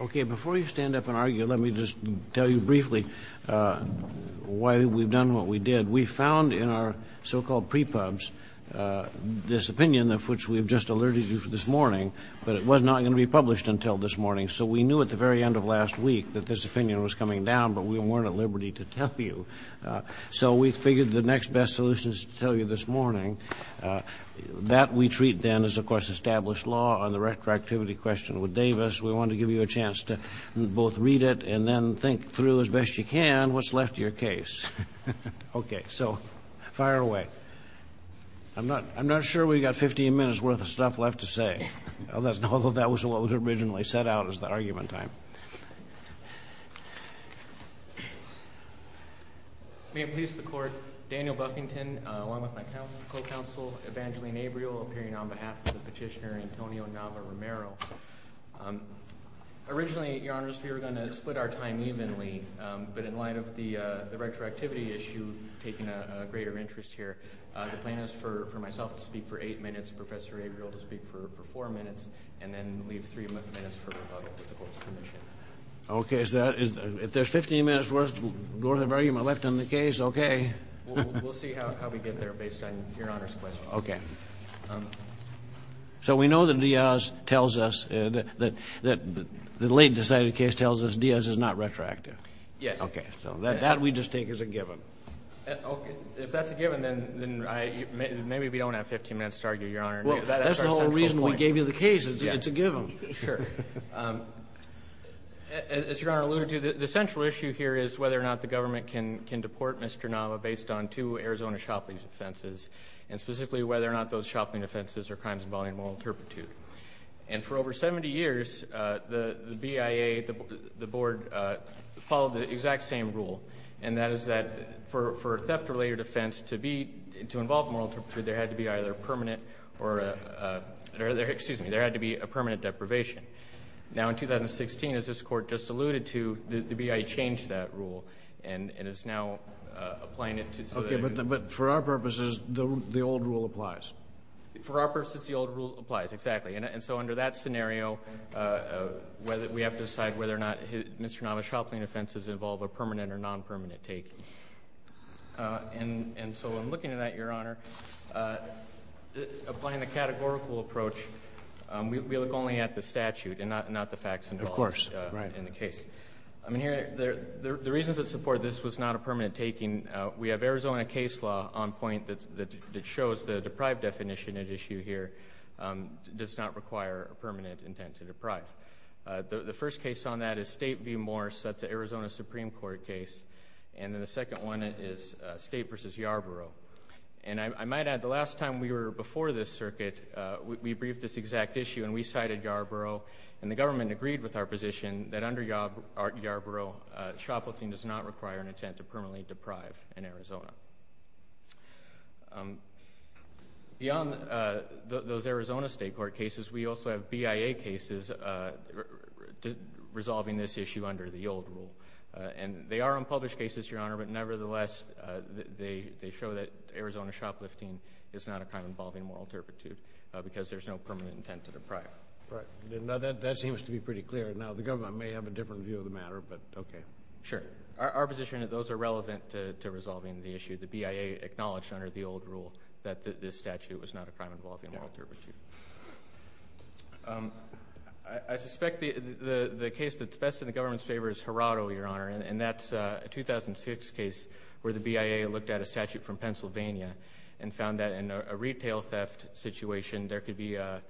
Okay, before you stand up and argue, let me just tell you briefly why we've done what we did. We found in our so-called pre-pubs this opinion of which we have just alerted you this morning, but it was not going to be published until this morning. So we knew at the very end of last week that this opinion was coming down, but we weren't at liberty to tell you. So we figured the next best solution is to tell you this morning. That we treat then as, of course, established law. On the retroactivity question with Davis, we wanted to give you a chance to both read it and then think through as best you can what's left of your case. Okay, so fire away. I'm not sure we've got 15 minutes' worth of stuff left to say, although that was what was originally set out as the argument time. May it please the Court, Daniel Buffington along with my co-counsel Evangeline Abreu appearing on behalf of the petitioner Antonio Nava Romero. Originally, Your Honors, we were going to split our time evenly, but in light of the retroactivity issue taking a greater interest here, the plan is for myself to speak for eight minutes, Professor Abreu to speak for four minutes, and then leave three minutes for rebuttal with the Court's permission. Okay. If there's 15 minutes' worth of argument left in the case, okay. We'll see how we get there based on Your Honor's question. Okay. So we know that Diaz tells us that the late decided case tells us Diaz is not retroactive. Yes. Okay. So that we just take as a given. If that's a given, then maybe we don't have 15 minutes to argue, Your Honor. Well, that's the whole reason we gave you the case. It's a given. Sure. As Your Honor alluded to, the central issue here is whether or not the government can deport Mr. Nava based on two Arizona shoplifting offenses, and specifically whether or not those shopping offenses are crimes involving moral turpitude. And for over 70 years, the BIA, the Board, followed the exact same rule, and that is that for a theft-related offense to involve moral turpitude, there had to be either permanent or a permanent deprivation. Now, in 2016, as this Court just alluded to, the BIA changed that rule, and is now applying it to so that it can be. Okay. But for our purposes, the old rule applies. For our purposes, the old rule applies. Exactly. And so under that scenario, we have to decide whether or not Mr. Nava's shopping offenses involve a permanent or non-permanent take. And so in looking at that, Your Honor, applying the categorical approach, we look only at the statute and not the facts involved in the case. Of course. Right. I mean, the reasons that support this was not a permanent taking, we have Arizona case law on point that shows the deprived definition at issue here does not require a permanent intent to deprive. The first case on that is State v. Morse. That's an Arizona Supreme Court case. And then the second one is State v. Yarborough. And I might add, the last time we were before this circuit, we briefed this exact issue and we cited Yarborough, and the government agreed with our position that under Yarborough, shoplifting does not require an intent to permanently deprive in Arizona. Beyond those Arizona State Court cases, we also have BIA cases resolving this issue under the old rule. And they are unpublished cases, Your Honor, but nevertheless they show that Arizona shoplifting is not a crime involving moral turpitude because there's no permanent intent to deprive. Right. Now, that seems to be pretty clear. Now, the government may have a different view of the matter, but okay. Sure. Our position is those are relevant to resolving the issue. The BIA acknowledged under the old rule that this statute was not a crime involving moral turpitude. I suspect the case that's best in the government's favor is Harado, Your Honor, and that's a 2006 case where the BIA looked at a statute from Pennsylvania and found that in a retail theft situation, there could be a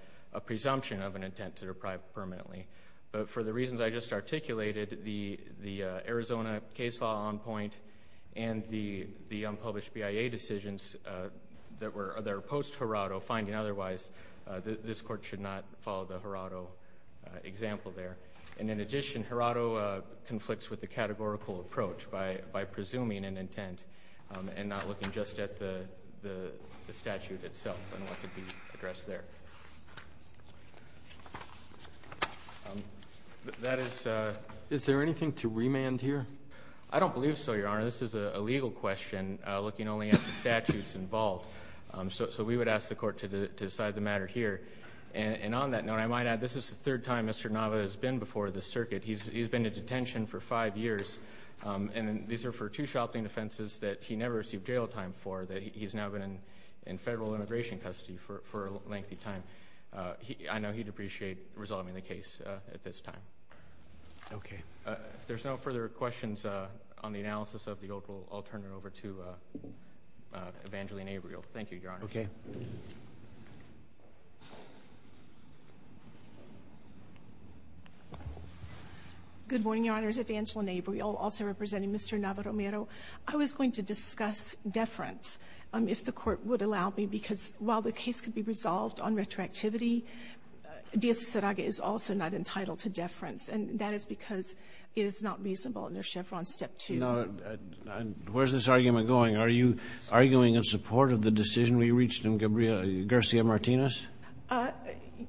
presumption of an intent to deprive permanently. But for the reasons I just articulated, the Arizona case law on point and the unpublished BIA decisions that were post-Harado, finding otherwise this court should not follow the Harado example there. And in addition, Harado conflicts with the categorical approach by presuming an intent and not looking just at the statute itself and what could be addressed there. Is there anything to remand here? I don't believe so, Your Honor. This is a legal question looking only at the statutes involved. So we would ask the court to decide the matter here. And on that note, I might add this is the third time Mr. Nava has been before the circuit. He's been in detention for five years. And these are for two shopping offenses that he never received jail time for, that he's now been in federal immigration custody for a lengthy time. I know he'd appreciate resolving the case at this time. Okay. If there's no further questions on the analysis of the old rule, I'll turn it over to Evangeline Abreuil. Thank you, Your Honor. Okay. Good morning, Your Honors. Evangeline Abreuil, also representing Mr. Nava Romero. I was going to discuss deference, if the court would allow me, because while the case could be resolved on retroactivity, Diaz-Serraga is also not entitled to deference, and that is because it is not reasonable under Chevron Step 2. Now, where's this argument going? Are you arguing in support of the decision we reached in Garcia-Martinez?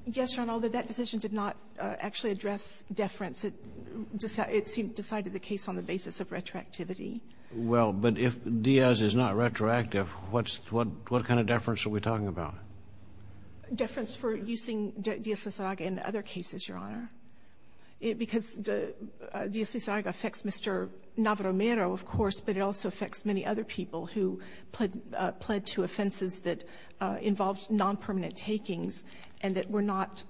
Yes, Your Honor, although that decision did not actually address deference. It decided the case on the basis of retroactivity. Well, but if Diaz is not retroactive, what kind of deference are we talking about? Deference for using Diaz-Serraga in other cases, Your Honor. Because Diaz-Serraga affects Mr. Nava Romero, of course, but it also affects many other people who pled to offenses that involved nonpermanent takings and that were not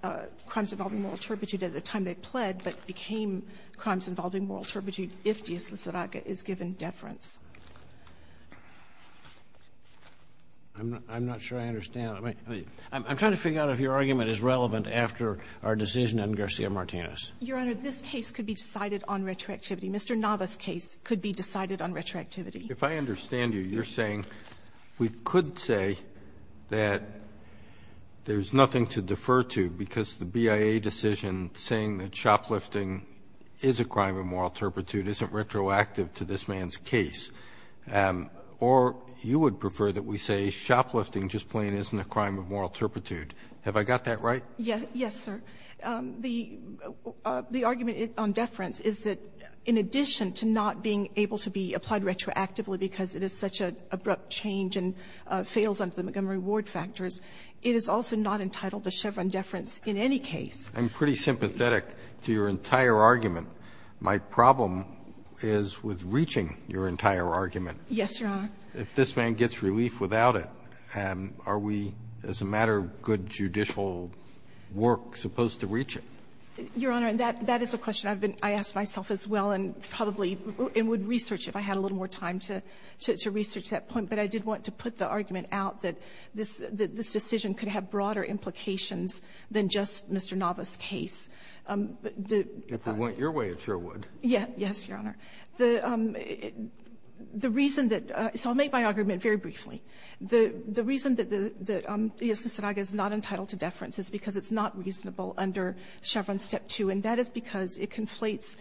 crimes involving moral turpitude at the time they pled, but became crimes involving moral turpitude if Diaz-Serraga is given deference. I'm not sure I understand. I'm trying to figure out if your argument is relevant after our decision on Garcia-Martinez. Your Honor, this case could be decided on retroactivity. Mr. Nava's case could be decided on retroactivity. If I understand you, you're saying we could say that there's nothing to defer to because the BIA decision saying that shoplifting is a crime of moral turpitude isn't retroactive to this man's case, or you would prefer that we say shoplifting just plain isn't a crime of moral turpitude. Have I got that right? Yes, sir. The argument on deference is that in addition to not being able to be applied retroactively because it is such an abrupt change and fails under the Montgomery Ward factors, it is also not entitled to Chevron deference in any case. I'm pretty sympathetic to your entire argument. My problem is with reaching your entire argument. Yes, Your Honor. If this man gets relief without it, are we, as a matter of good judicial work, supposed to reach it? Your Honor, that is a question I've been asking myself as well, and probably would research if I had a little more time to research that point. But I did want to put the argument out that this decision could have broader implications than just Mr. Nava's case. If it went your way, it sure would. Yes. Yes, Your Honor. The reason that — so I'll make my argument very briefly. The reason that the ESA-SRAGA is not entitled to deference is because it's not reasonable under Chevron Step 2, and that is because it conflates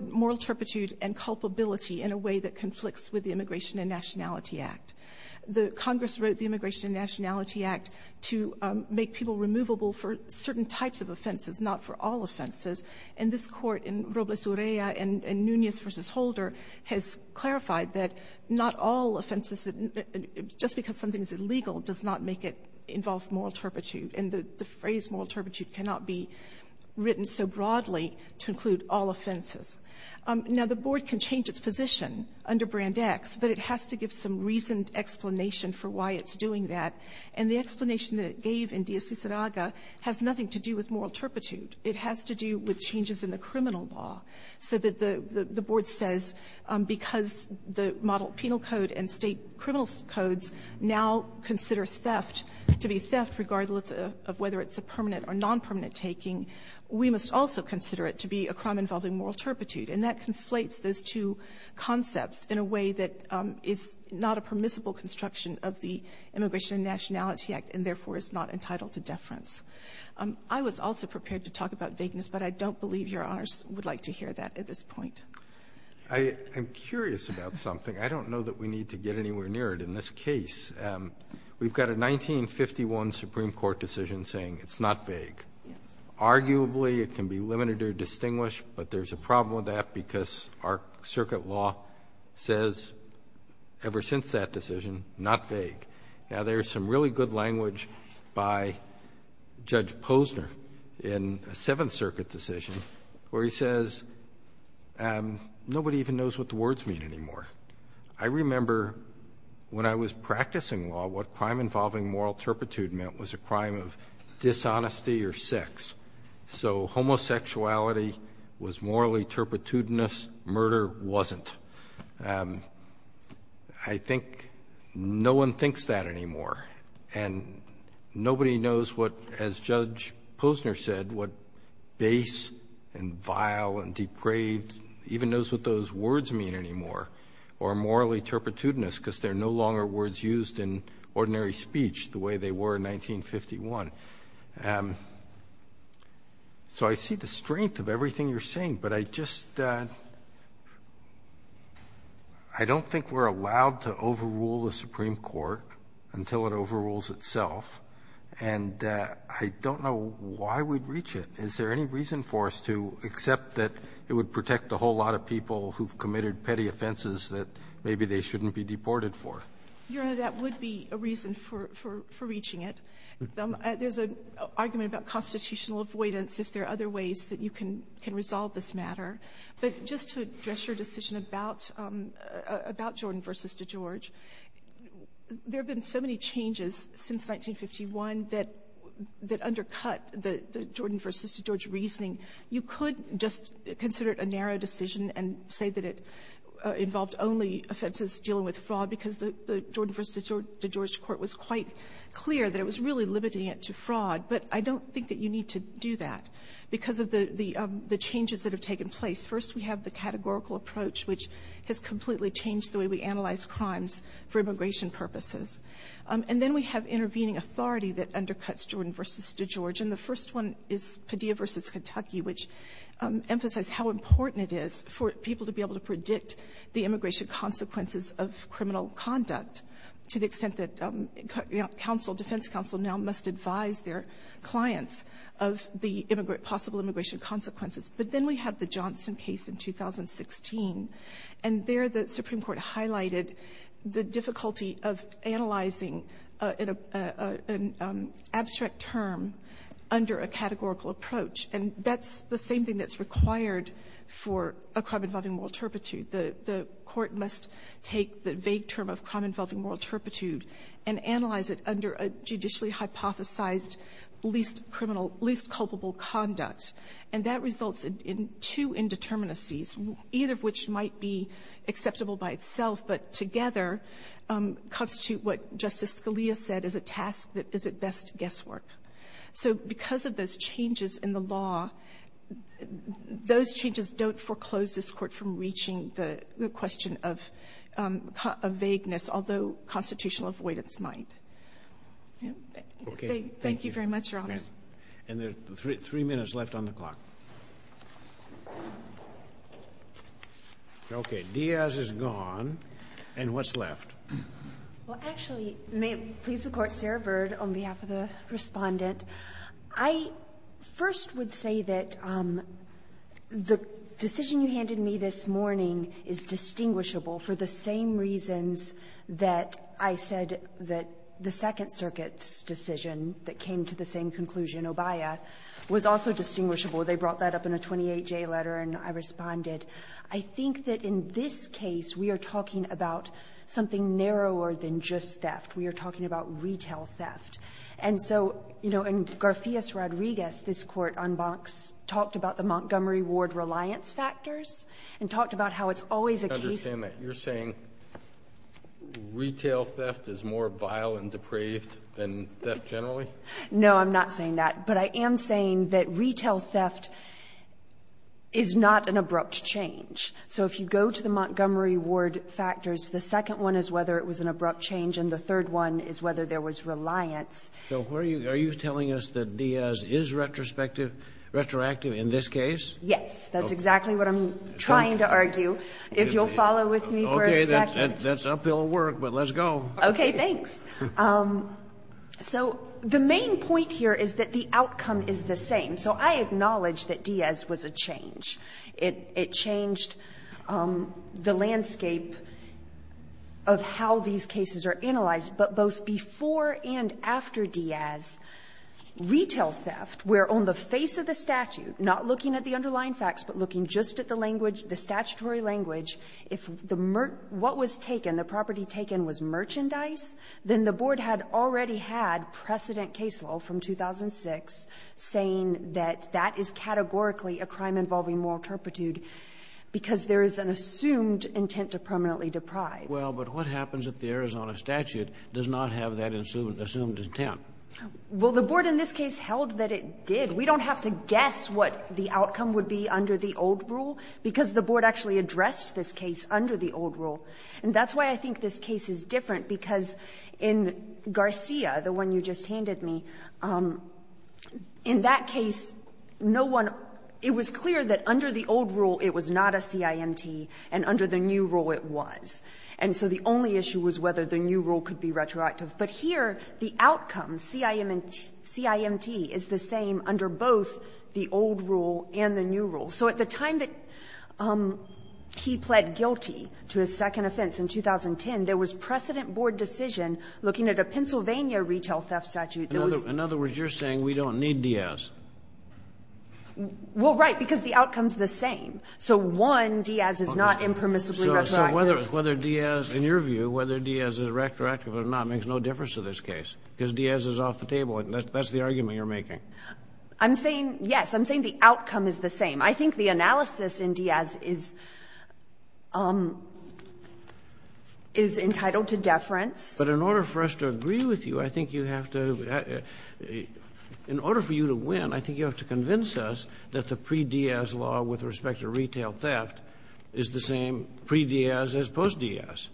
moral turpitude and culpability in a way that conflicts with the Immigration and Nationality Act. Congress wrote the Immigration and Nationality Act to make people removable for certain types of offenses, not for all offenses. And this Court in Robles-Urrea and Nunez v. Holder has clarified that not all offenses — just because something is illegal does not make it involve moral turpitude. And the phrase moral turpitude cannot be written so broadly to include all offenses. Now, the Board can change its position under Brand X, but it has to give some reasoned explanation for why it's doing that. And the explanation that it gave in DSC-SRAGA has nothing to do with moral turpitude. It has to do with changes in the criminal law, so that the Board says because the model penal code and state criminal codes now consider theft to be theft regardless of whether it's a permanent or nonpermanent taking, we must also consider it to be a crime involving moral turpitude. And that conflates those two concepts in a way that is not a permissible construction of the Immigration and Nationality Act and, therefore, is not entitled to deference. I was also prepared to talk about vagueness, but I don't believe Your Honors would like to hear that at this point. Roberts. I'm curious about something. I don't know that we need to get anywhere near it in this case. We've got a 1951 Supreme Court decision saying it's not vague. Arguably, it can be limited or distinguished, but there's a problem with that because our circuit law says ever since that decision, not vague. Now, there's some really good language by Judge Posner in a Seventh Circuit decision where he says nobody even knows what the words mean anymore. I remember when I was practicing law, what crime involving moral turpitude meant was a crime of dishonesty or sex. So homosexuality was morally turpitudinous murder wasn't. I think no one thinks that anymore. And nobody knows what, as Judge Posner said, what base and vile and depraved even knows what those words mean anymore or morally turpitudinous because they're no longer words used in ordinary speech the way they were in 1951. So I see the strength of everything you're saying, but I just don't think we're allowed to overrule the Supreme Court until it overrules itself. And I don't know why we'd reach it. Is there any reason for us to accept that it would protect a whole lot of people who've committed petty offenses that maybe they shouldn't be deported for? Your Honor, that would be a reason for reaching it. There's an argument about constitutional avoidance if there are other ways that you can resolve this matter. But just to address your decision about Jordan v. DeGeorge, there have been so many changes since 1951 that undercut the Jordan v. DeGeorge reasoning. You could just consider it a narrow decision and say that it involved only offenses dealing with fraud because the Jordan v. DeGeorge court was quite clear that it was really limiting it to fraud. But I don't think that you need to do that because of the changes that have taken place. First, we have the categorical approach, which has completely changed the way we analyze crimes for immigration purposes. And then we have intervening authority that undercuts Jordan v. DeGeorge. And the first one is Padilla v. Kentucky, which emphasized how important it is for people to be able to predict the immigration consequences of criminal conduct to the extent that counsel, defense counsel, now must advise their clients of the possible immigration consequences. But then we have the Johnson case in 2016. And there the Supreme Court highlighted the difficulty of analyzing an abstract term under a categorical approach. And that's the same thing that's required for a crime involving moral turpitude. The Court must take the vague term of crime involving moral turpitude and analyze it under a judicially hypothesized least criminal, least culpable conduct. And that results in two indeterminacies, either of which might be acceptable by itself, but together constitute what Justice Scalia said is a task that is at best guesswork. So because of those changes in the law, those changes don't foreclose this Court from reaching the question of vagueness, although constitutional avoidance might. Thank you very much, Your Honor. And there are three minutes left on the clock. Okay. Diaz is gone. And what's left? Well, actually, may it please the Court, Sarah Bird, on behalf of the Respondent, I first would say that the decision you handed me this morning is distinguishable for the same reasons that I said that the Second Circuit's decision that came to the same conclusion, Obaia, was also distinguishable. They brought that up in a 28J letter and I responded. I think that in this case we are talking about something narrower than just theft. We are talking about retail theft. And so, you know, in Garfias-Rodriguez, this Court on Banks talked about the Montgomery Ward reliance factors and talked about how it's always a case of theft. I understand that. You're saying retail theft is more vile and depraved than theft generally? No, I'm not saying that. But I am saying that retail theft is not an abrupt change. So if you go to the Montgomery Ward factors, the second one is whether it was an abrupt change and the third one is whether there was reliance. So are you telling us that Diaz is retrospective in this case? Yes. That's exactly what I'm trying to argue. If you'll follow with me for a second. Okay. That's uphill work, but let's go. Okay. Thanks. So the main point here is that the outcome is the same. So I acknowledge that Diaz was a change. It changed the landscape of how these cases are analyzed, but both before and after Diaz, retail theft, where on the face of the statute, not looking at the underlying facts, but looking just at the language, the statutory language, if the merch — what was taken, the property taken was merchandise, then the Board had already had precedent caseload from 2006 saying that that is categorically a crime involving moral turpitude because there is an assumed intent to permanently deprive. Well, but what happens if the Arizona statute does not have that assumed intent? Well, the Board in this case held that it did. We don't have to guess what the outcome would be under the old rule, because the Board actually addressed this case under the old rule. And that's why I think this case is different, because in Garcia, the one you just handed me, in that case, no one — it was clear that under the old rule, it was not a CIMT, and under the new rule, it was. And so the only issue was whether the new rule could be retroactive. But here, the outcome, CIMT, is the same under both the old rule and the new rule. So at the time that he pled guilty to his second offense in 2010, there was precedent Board decision looking at a Pennsylvania retail theft statute that was — In other words, you're saying we don't need Diaz. Well, right, because the outcome is the same. So, one, Diaz is not impermissibly retroactive. Whether Diaz — in your view, whether Diaz is retroactive or not makes no difference to this case, because Diaz is off the table, and that's the argument you're making. I'm saying — yes, I'm saying the outcome is the same. I think the analysis in Diaz is entitled to deference. But in order for us to agree with you, I think you have to — in order for you to win, I think you have to convince us that the pre-Diaz law with respect to retail theft is the same pre-Diaz as post-Diaz.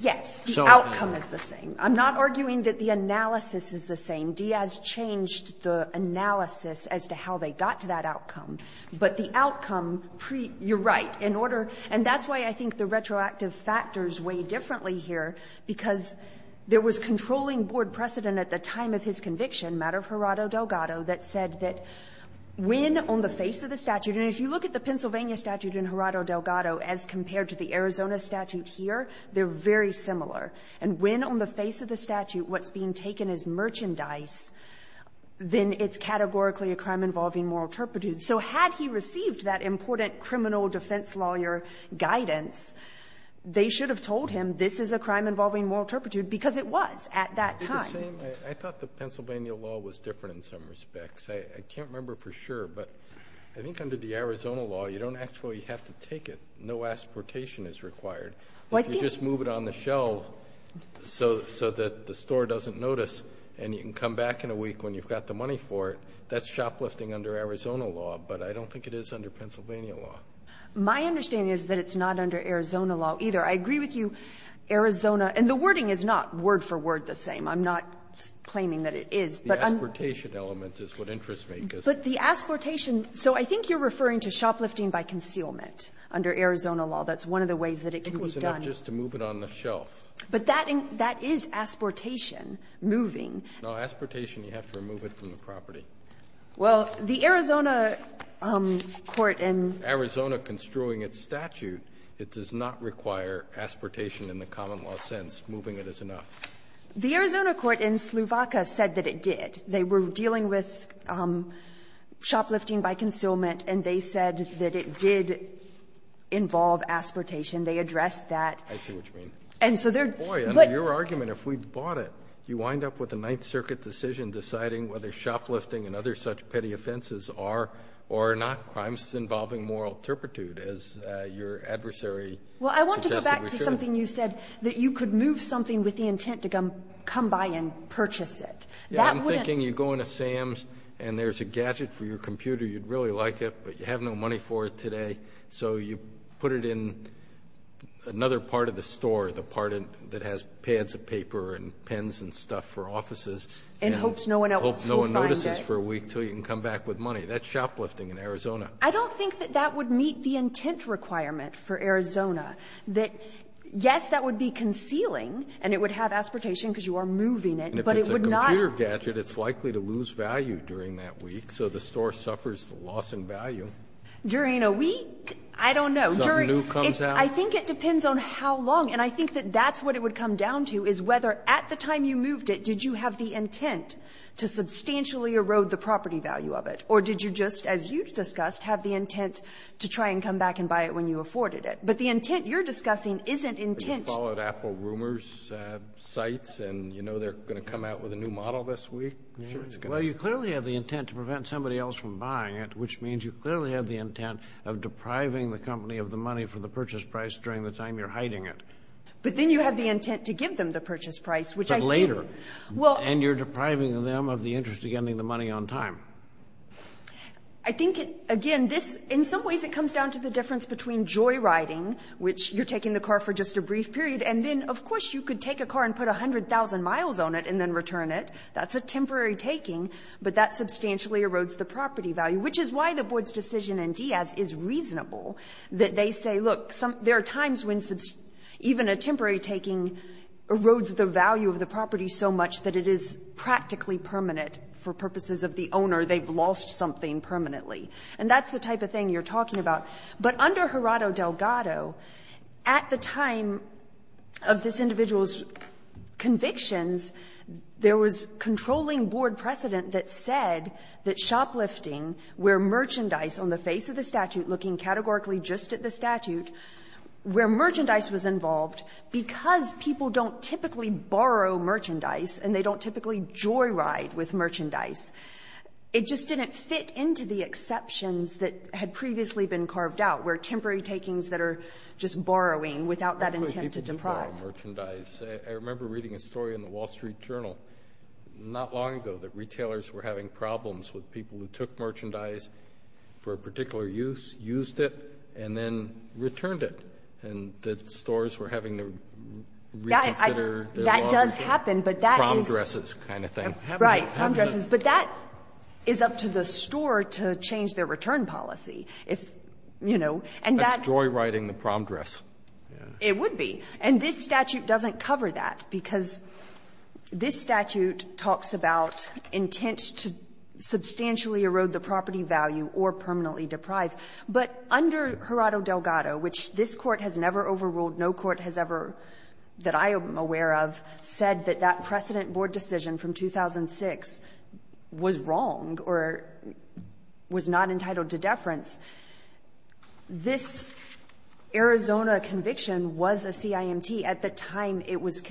Yes, the outcome is the same. I'm not arguing that the analysis is the same. Diaz changed the analysis as to how they got to that outcome. But the outcome, pre — you're right. In order — and that's why I think the retroactive factors weigh differently here, because there was controlling Board precedent at the time of his conviction, matter of Gerardo Delgado, that said that when, on the face of the statute — and if you look at the Pennsylvania statute and Gerardo Delgado as compared to the Arizona statute here, they're very similar — and when, on the face of the statute, what's being taken is merchandise, then it's categorically a crime involving moral turpitude. So had he received that important criminal defense lawyer guidance, they should have told him this is a crime involving moral turpitude, because it was at that time. Roberts, I thought the Pennsylvania law was different in some respects. I can't remember for sure, but I think under the Arizona law, you don't actually have to take it. No asportation is required. If you just move it on the shelf so that the store doesn't notice and you can come back in a week when you've got the money for it, that's shoplifting under Arizona law, but I don't think it is under Pennsylvania law. My understanding is that it's not under Arizona law either. I agree with you, Arizona — and the wording is not word for word the same. I'm not claiming that it is. But I'm — Asportation element is what interests me. But the asportation — so I think you're referring to shoplifting by concealment under Arizona law. That's one of the ways that it can be done. It was enough just to move it on the shelf. But that is asportation, moving. No, asportation, you have to remove it from the property. Well, the Arizona court in — Arizona construing its statute, it does not require asportation in the common law sense. Moving it is enough. The Arizona court in Slovakia said that it did. They were dealing with shoplifting by concealment, and they said that it did involve asportation. They addressed that. I see what you mean. And so they're — Boy, under your argument, if we bought it, you wind up with a Ninth Circuit decision deciding whether shoplifting and other such petty offenses are or are not crimes involving moral turpitude, as your adversary suggested we should. Well, I want to go back to something you said, that you could move something with the intent to come by and purchase it. That wouldn't — Yes. I'm thinking you go into Sam's and there's a gadget for your computer, you'd really like it, but you have no money for it today, so you put it in another part of the store, the part that has pads of paper and pens and stuff for offices, and — And hopes no one else will find it. And hopes no one notices for a week until you can come back with money. That's shoplifting in Arizona. I don't think that that would meet the intent requirement for Arizona, that, yes, that would be concealing and it would have aspiratation because you are moving it, but it would not — And if it's a computer gadget, it's likely to lose value during that week, so the store suffers the loss in value. During a week? I don't know. Something new comes out? I think it depends on how long. And I think that that's what it would come down to, is whether at the time you moved it, did you have the intent to substantially erode the property value of it, or did you just, as you discussed, have the intent to try and come back and buy it when you afforded it? But the intent you're discussing isn't intent — But you followed Apple Rumors' sites, and you know they're going to come out with a new model this week? Well, you clearly have the intent to prevent somebody else from buying it, which means you clearly have the intent of depriving the company of the money for the purchase price during the time you're hiding it. But then you have the intent to give them the purchase price, which I — But later. Well — And you're depriving them of the interest of getting the money on time. I think, again, this — in some ways it comes down to the difference between joyriding, which you're taking the car for just a brief period, and then, of course, you could take a car and put 100,000 miles on it and then return it. That's a temporary taking, but that substantially erodes the property value, which is why the Board's decision in Diaz is reasonable, that they say, look, there are times when even a temporary taking erodes the value of the property so much that it is practically permanent for purposes of the owner. They've lost something permanently. And that's the type of thing you're talking about. But under Gerardo Delgado, at the time of this individual's convictions, there was controlling Board precedent that said that shoplifting, where merchandise on the face of the statute, looking categorically just at the statute, where merchandise was involved, because people don't typically borrow merchandise and they don't typically joyride with merchandise, it just didn't fit into the exceptions that had previously been carved out, where temporary takings that are just borrowing without that intent to deprive. I remember reading a story in the Wall Street Journal not long ago that retailers were having problems with people who took merchandise for a particular use, used it, and then returned it. And the stores were having to reconsider their owners' prom dresses kind of thing. Right. Prom dresses. But that is up to the store to change their return policy. If, you know, and that's joy riding the prom dress. It would be. And this statute doesn't cover that, because this statute talks about intent to substantially erode the property value or permanently deprive. But under Gerardo Delgado, which this Court has never overruled, no court has ever that I am aware of said that that precedent board decision from 2006 was wrong or was not entitled to deference, this Arizona conviction was a CIMT at the time it was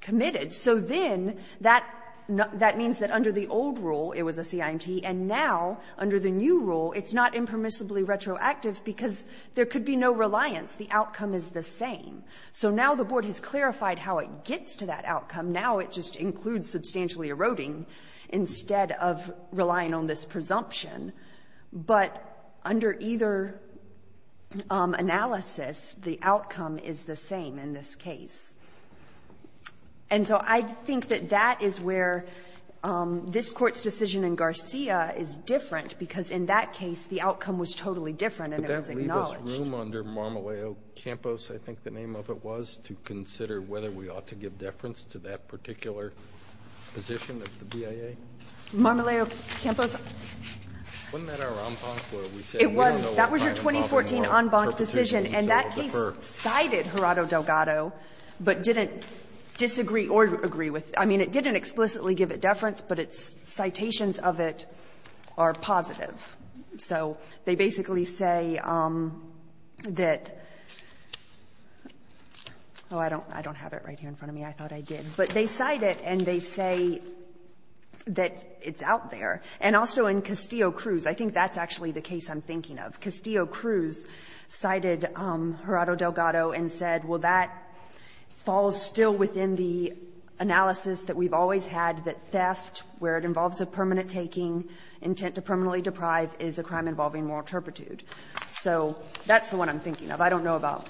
committed. So then that means that under the old rule it was a CIMT, and now under the new rule it's not impermissibly retroactive because there could be no reliance. The outcome is the same. So now the board has clarified how it gets to that outcome. Now it just includes substantially eroding instead of relying on this presumption. But under either analysis, the outcome is the same in this case. And so I think that that is where this Court's decision in Garcia is different, because in that case the outcome was totally different and it was acknowledged. Kennedy, that leave us room under Marmoleo Campos, I think the name of it was, to consider whether we ought to give deference to that particular position of the BIA? Marmoleo Campos. Wasn't that our en banc where we said we don't know what kind of problem our perpetuities will defer? It was. That was your 2014 en banc decision. And that case cited Gerardo Delgado, but didn't disagree or agree with the other So they basically say that oh, I don't have it right here in front of me. I thought I did. But they cite it and they say that it's out there. And also in Castillo-Cruz, I think that's actually the case I'm thinking of. Castillo-Cruz cited Gerardo Delgado and said, well, that falls still within the analysis that we've always had, that theft, where it involves a permanent taking, intent to permanently deprive, is a crime involving moral turpitude. So that's the one I'm thinking of. I don't know about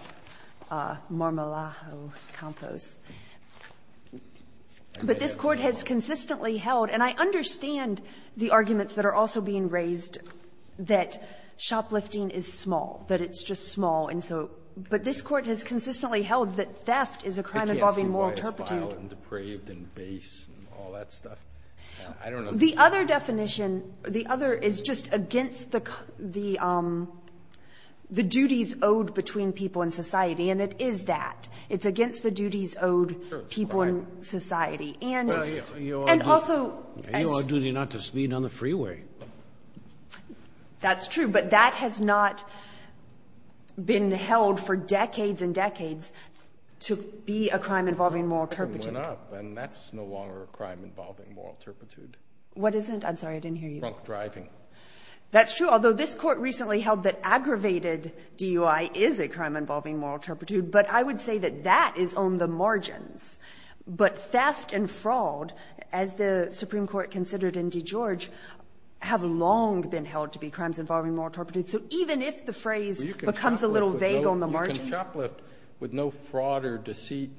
Marmoleo Campos. But this Court has consistently held, and I understand the arguments that are also being raised, that shoplifting is small, that it's just small, and so, but this Court has consistently held that theft is a crime involving moral turpitude. And depraved and base and all that stuff. I don't know. The other definition, the other is just against the duties owed between people in society, and it is that. It's against the duties owed people in society. And also as You are duty not to speed on the freeway. That's true. But that has not been held for decades and decades to be a crime involving moral turpitude. And that's no longer a crime involving moral turpitude. What isn't? I'm sorry, I didn't hear you. Drunk driving. That's true, although this Court recently held that aggravated DUI is a crime involving moral turpitude. But I would say that that is on the margins. But theft and fraud, as the Supreme Court considered in DeGeorge, have long been held to be crimes involving moral turpitude. So even if the phrase becomes a little vague on the margin. You can shoplift with no fraud or deceit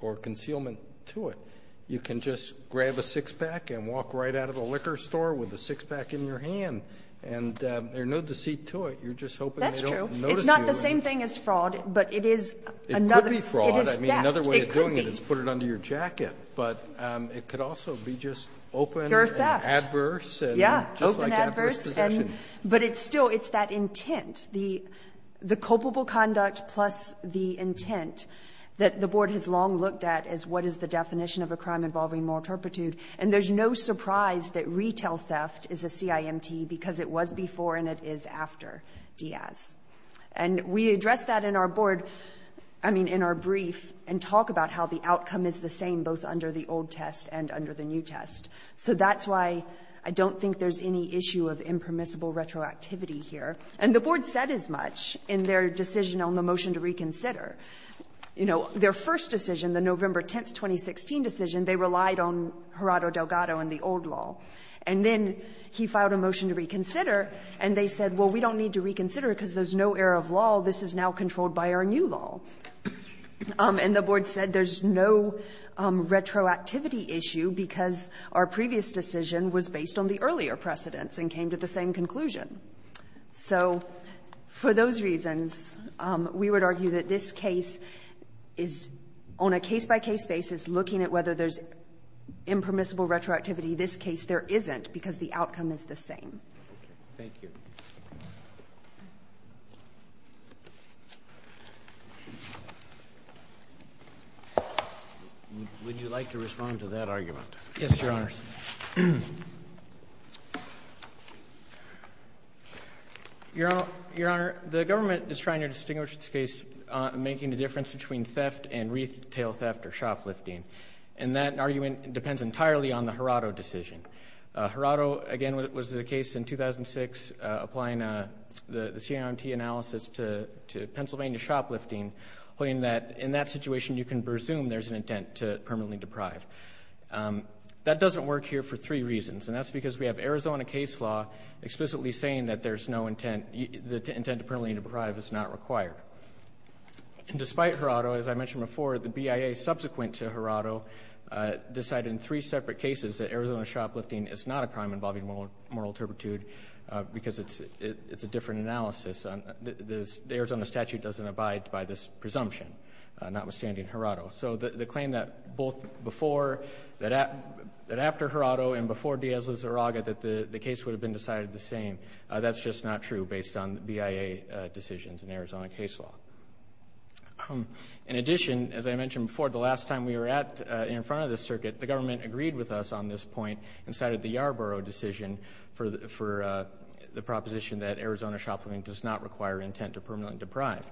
or concealment to it. You can just grab a six-pack and walk right out of the liquor store with a six-pack in your hand, and there's no deceit to it. You're just hoping they don't notice you. That's true. It's not the same thing as fraud, but it is another. It could be fraud. I mean, another way of doing it is put it under your jacket. But it could also be just open and adverse. Yeah, open, adverse. But it's still, it's that intent. The culpable conduct plus the intent that the Board has long looked at as what is the definition of a crime involving moral turpitude, and there's no surprise that retail theft is a CIMT because it was before and it is after Diaz. And we addressed that in our Board, I mean, in our brief, and talk about how the outcome is the same both under the old test and under the new test. So that's why I don't think there's any issue of impermissible retroactivity here. And the Board said as much in their decision on the motion to reconsider. You know, their first decision, the November 10, 2016 decision, they relied on Gerardo Delgado and the old law. And then he filed a motion to reconsider, and they said, well, we don't need to reconsider it because there's no error of law. This is now controlled by our new law. And the Board said there's no retroactivity issue because our previous decision was based on the earlier precedents and came to the same conclusion. So for those reasons, we would argue that this case is, on a case-by-case basis, looking at whether there's impermissible retroactivity. This case there isn't because the outcome is the same. Roberts. Thank you. Would you like to respond to that argument? Yes, Your Honor. Your Honor, the government is trying to distinguish this case, making a difference between theft and retail theft or shoplifting. And that argument depends entirely on the Gerardo decision. Gerardo, again, was the case in 2006, applying the CRMT analysis to Pennsylvania shoplifting, pointing that in that situation, you can presume there's an intent to permanently deprive. That doesn't work here for three reasons. And that's because we have Arizona case law explicitly saying that there's no intent, the intent to permanently deprive is not required. Despite Gerardo, as I mentioned before, the BIA subsequent to Gerardo decided in three separate cases that Arizona shoplifting is not a crime involving moral turpitude because it's a different analysis. The Arizona statute doesn't abide by this presumption, notwithstanding Gerardo. So the claim that both before, that after Gerardo and before Diaz-Lizarraga that the case would have been decided the same, that's just not true based on BIA decisions in Arizona case law. In addition, as I mentioned before, the last time we were in front of this circuit, the government agreed with us on this point and cited the Yarborough decision for the proposition that Arizona shoplifting does not require intent to permanently deprive.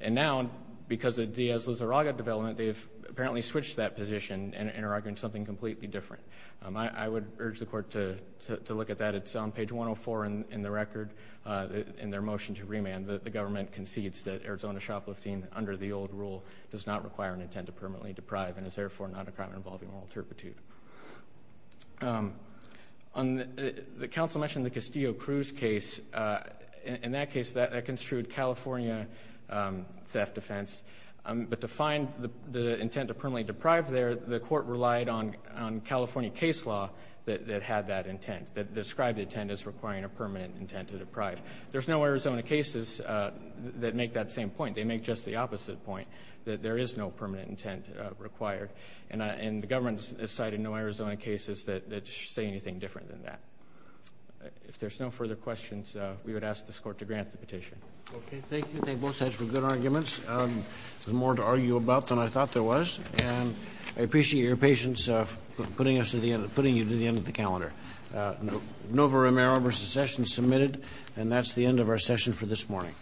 And now, because of Diaz-Lizarraga development, they have apparently switched that position and are arguing something completely different. I would urge the court to look at that. It's on page 104 in the record in their motion to remand that the government concedes that Arizona shoplifting under the old rule does not require an intent to permanently deprive and is therefore not a crime involving moral turpitude. The counsel mentioned the Castillo-Cruz case. In that case, that construed California theft offense. But to find the intent to permanently deprive there, the court relied on California case law that had that intent, that described the intent as requiring a permanent intent to deprive. There's no Arizona cases that make that same point. They make just the opposite point, that there is no permanent intent required. And the government has cited no Arizona cases that say anything different than that. If there's no further questions, we would ask this court to grant the petition. Okay, thank you. Thank both sides for good arguments. There's more to argue about than I thought there was. And I appreciate your patience putting you to the end of the calendar. Novo Romero versus Sessions submitted. And that's the end of our session for this morning.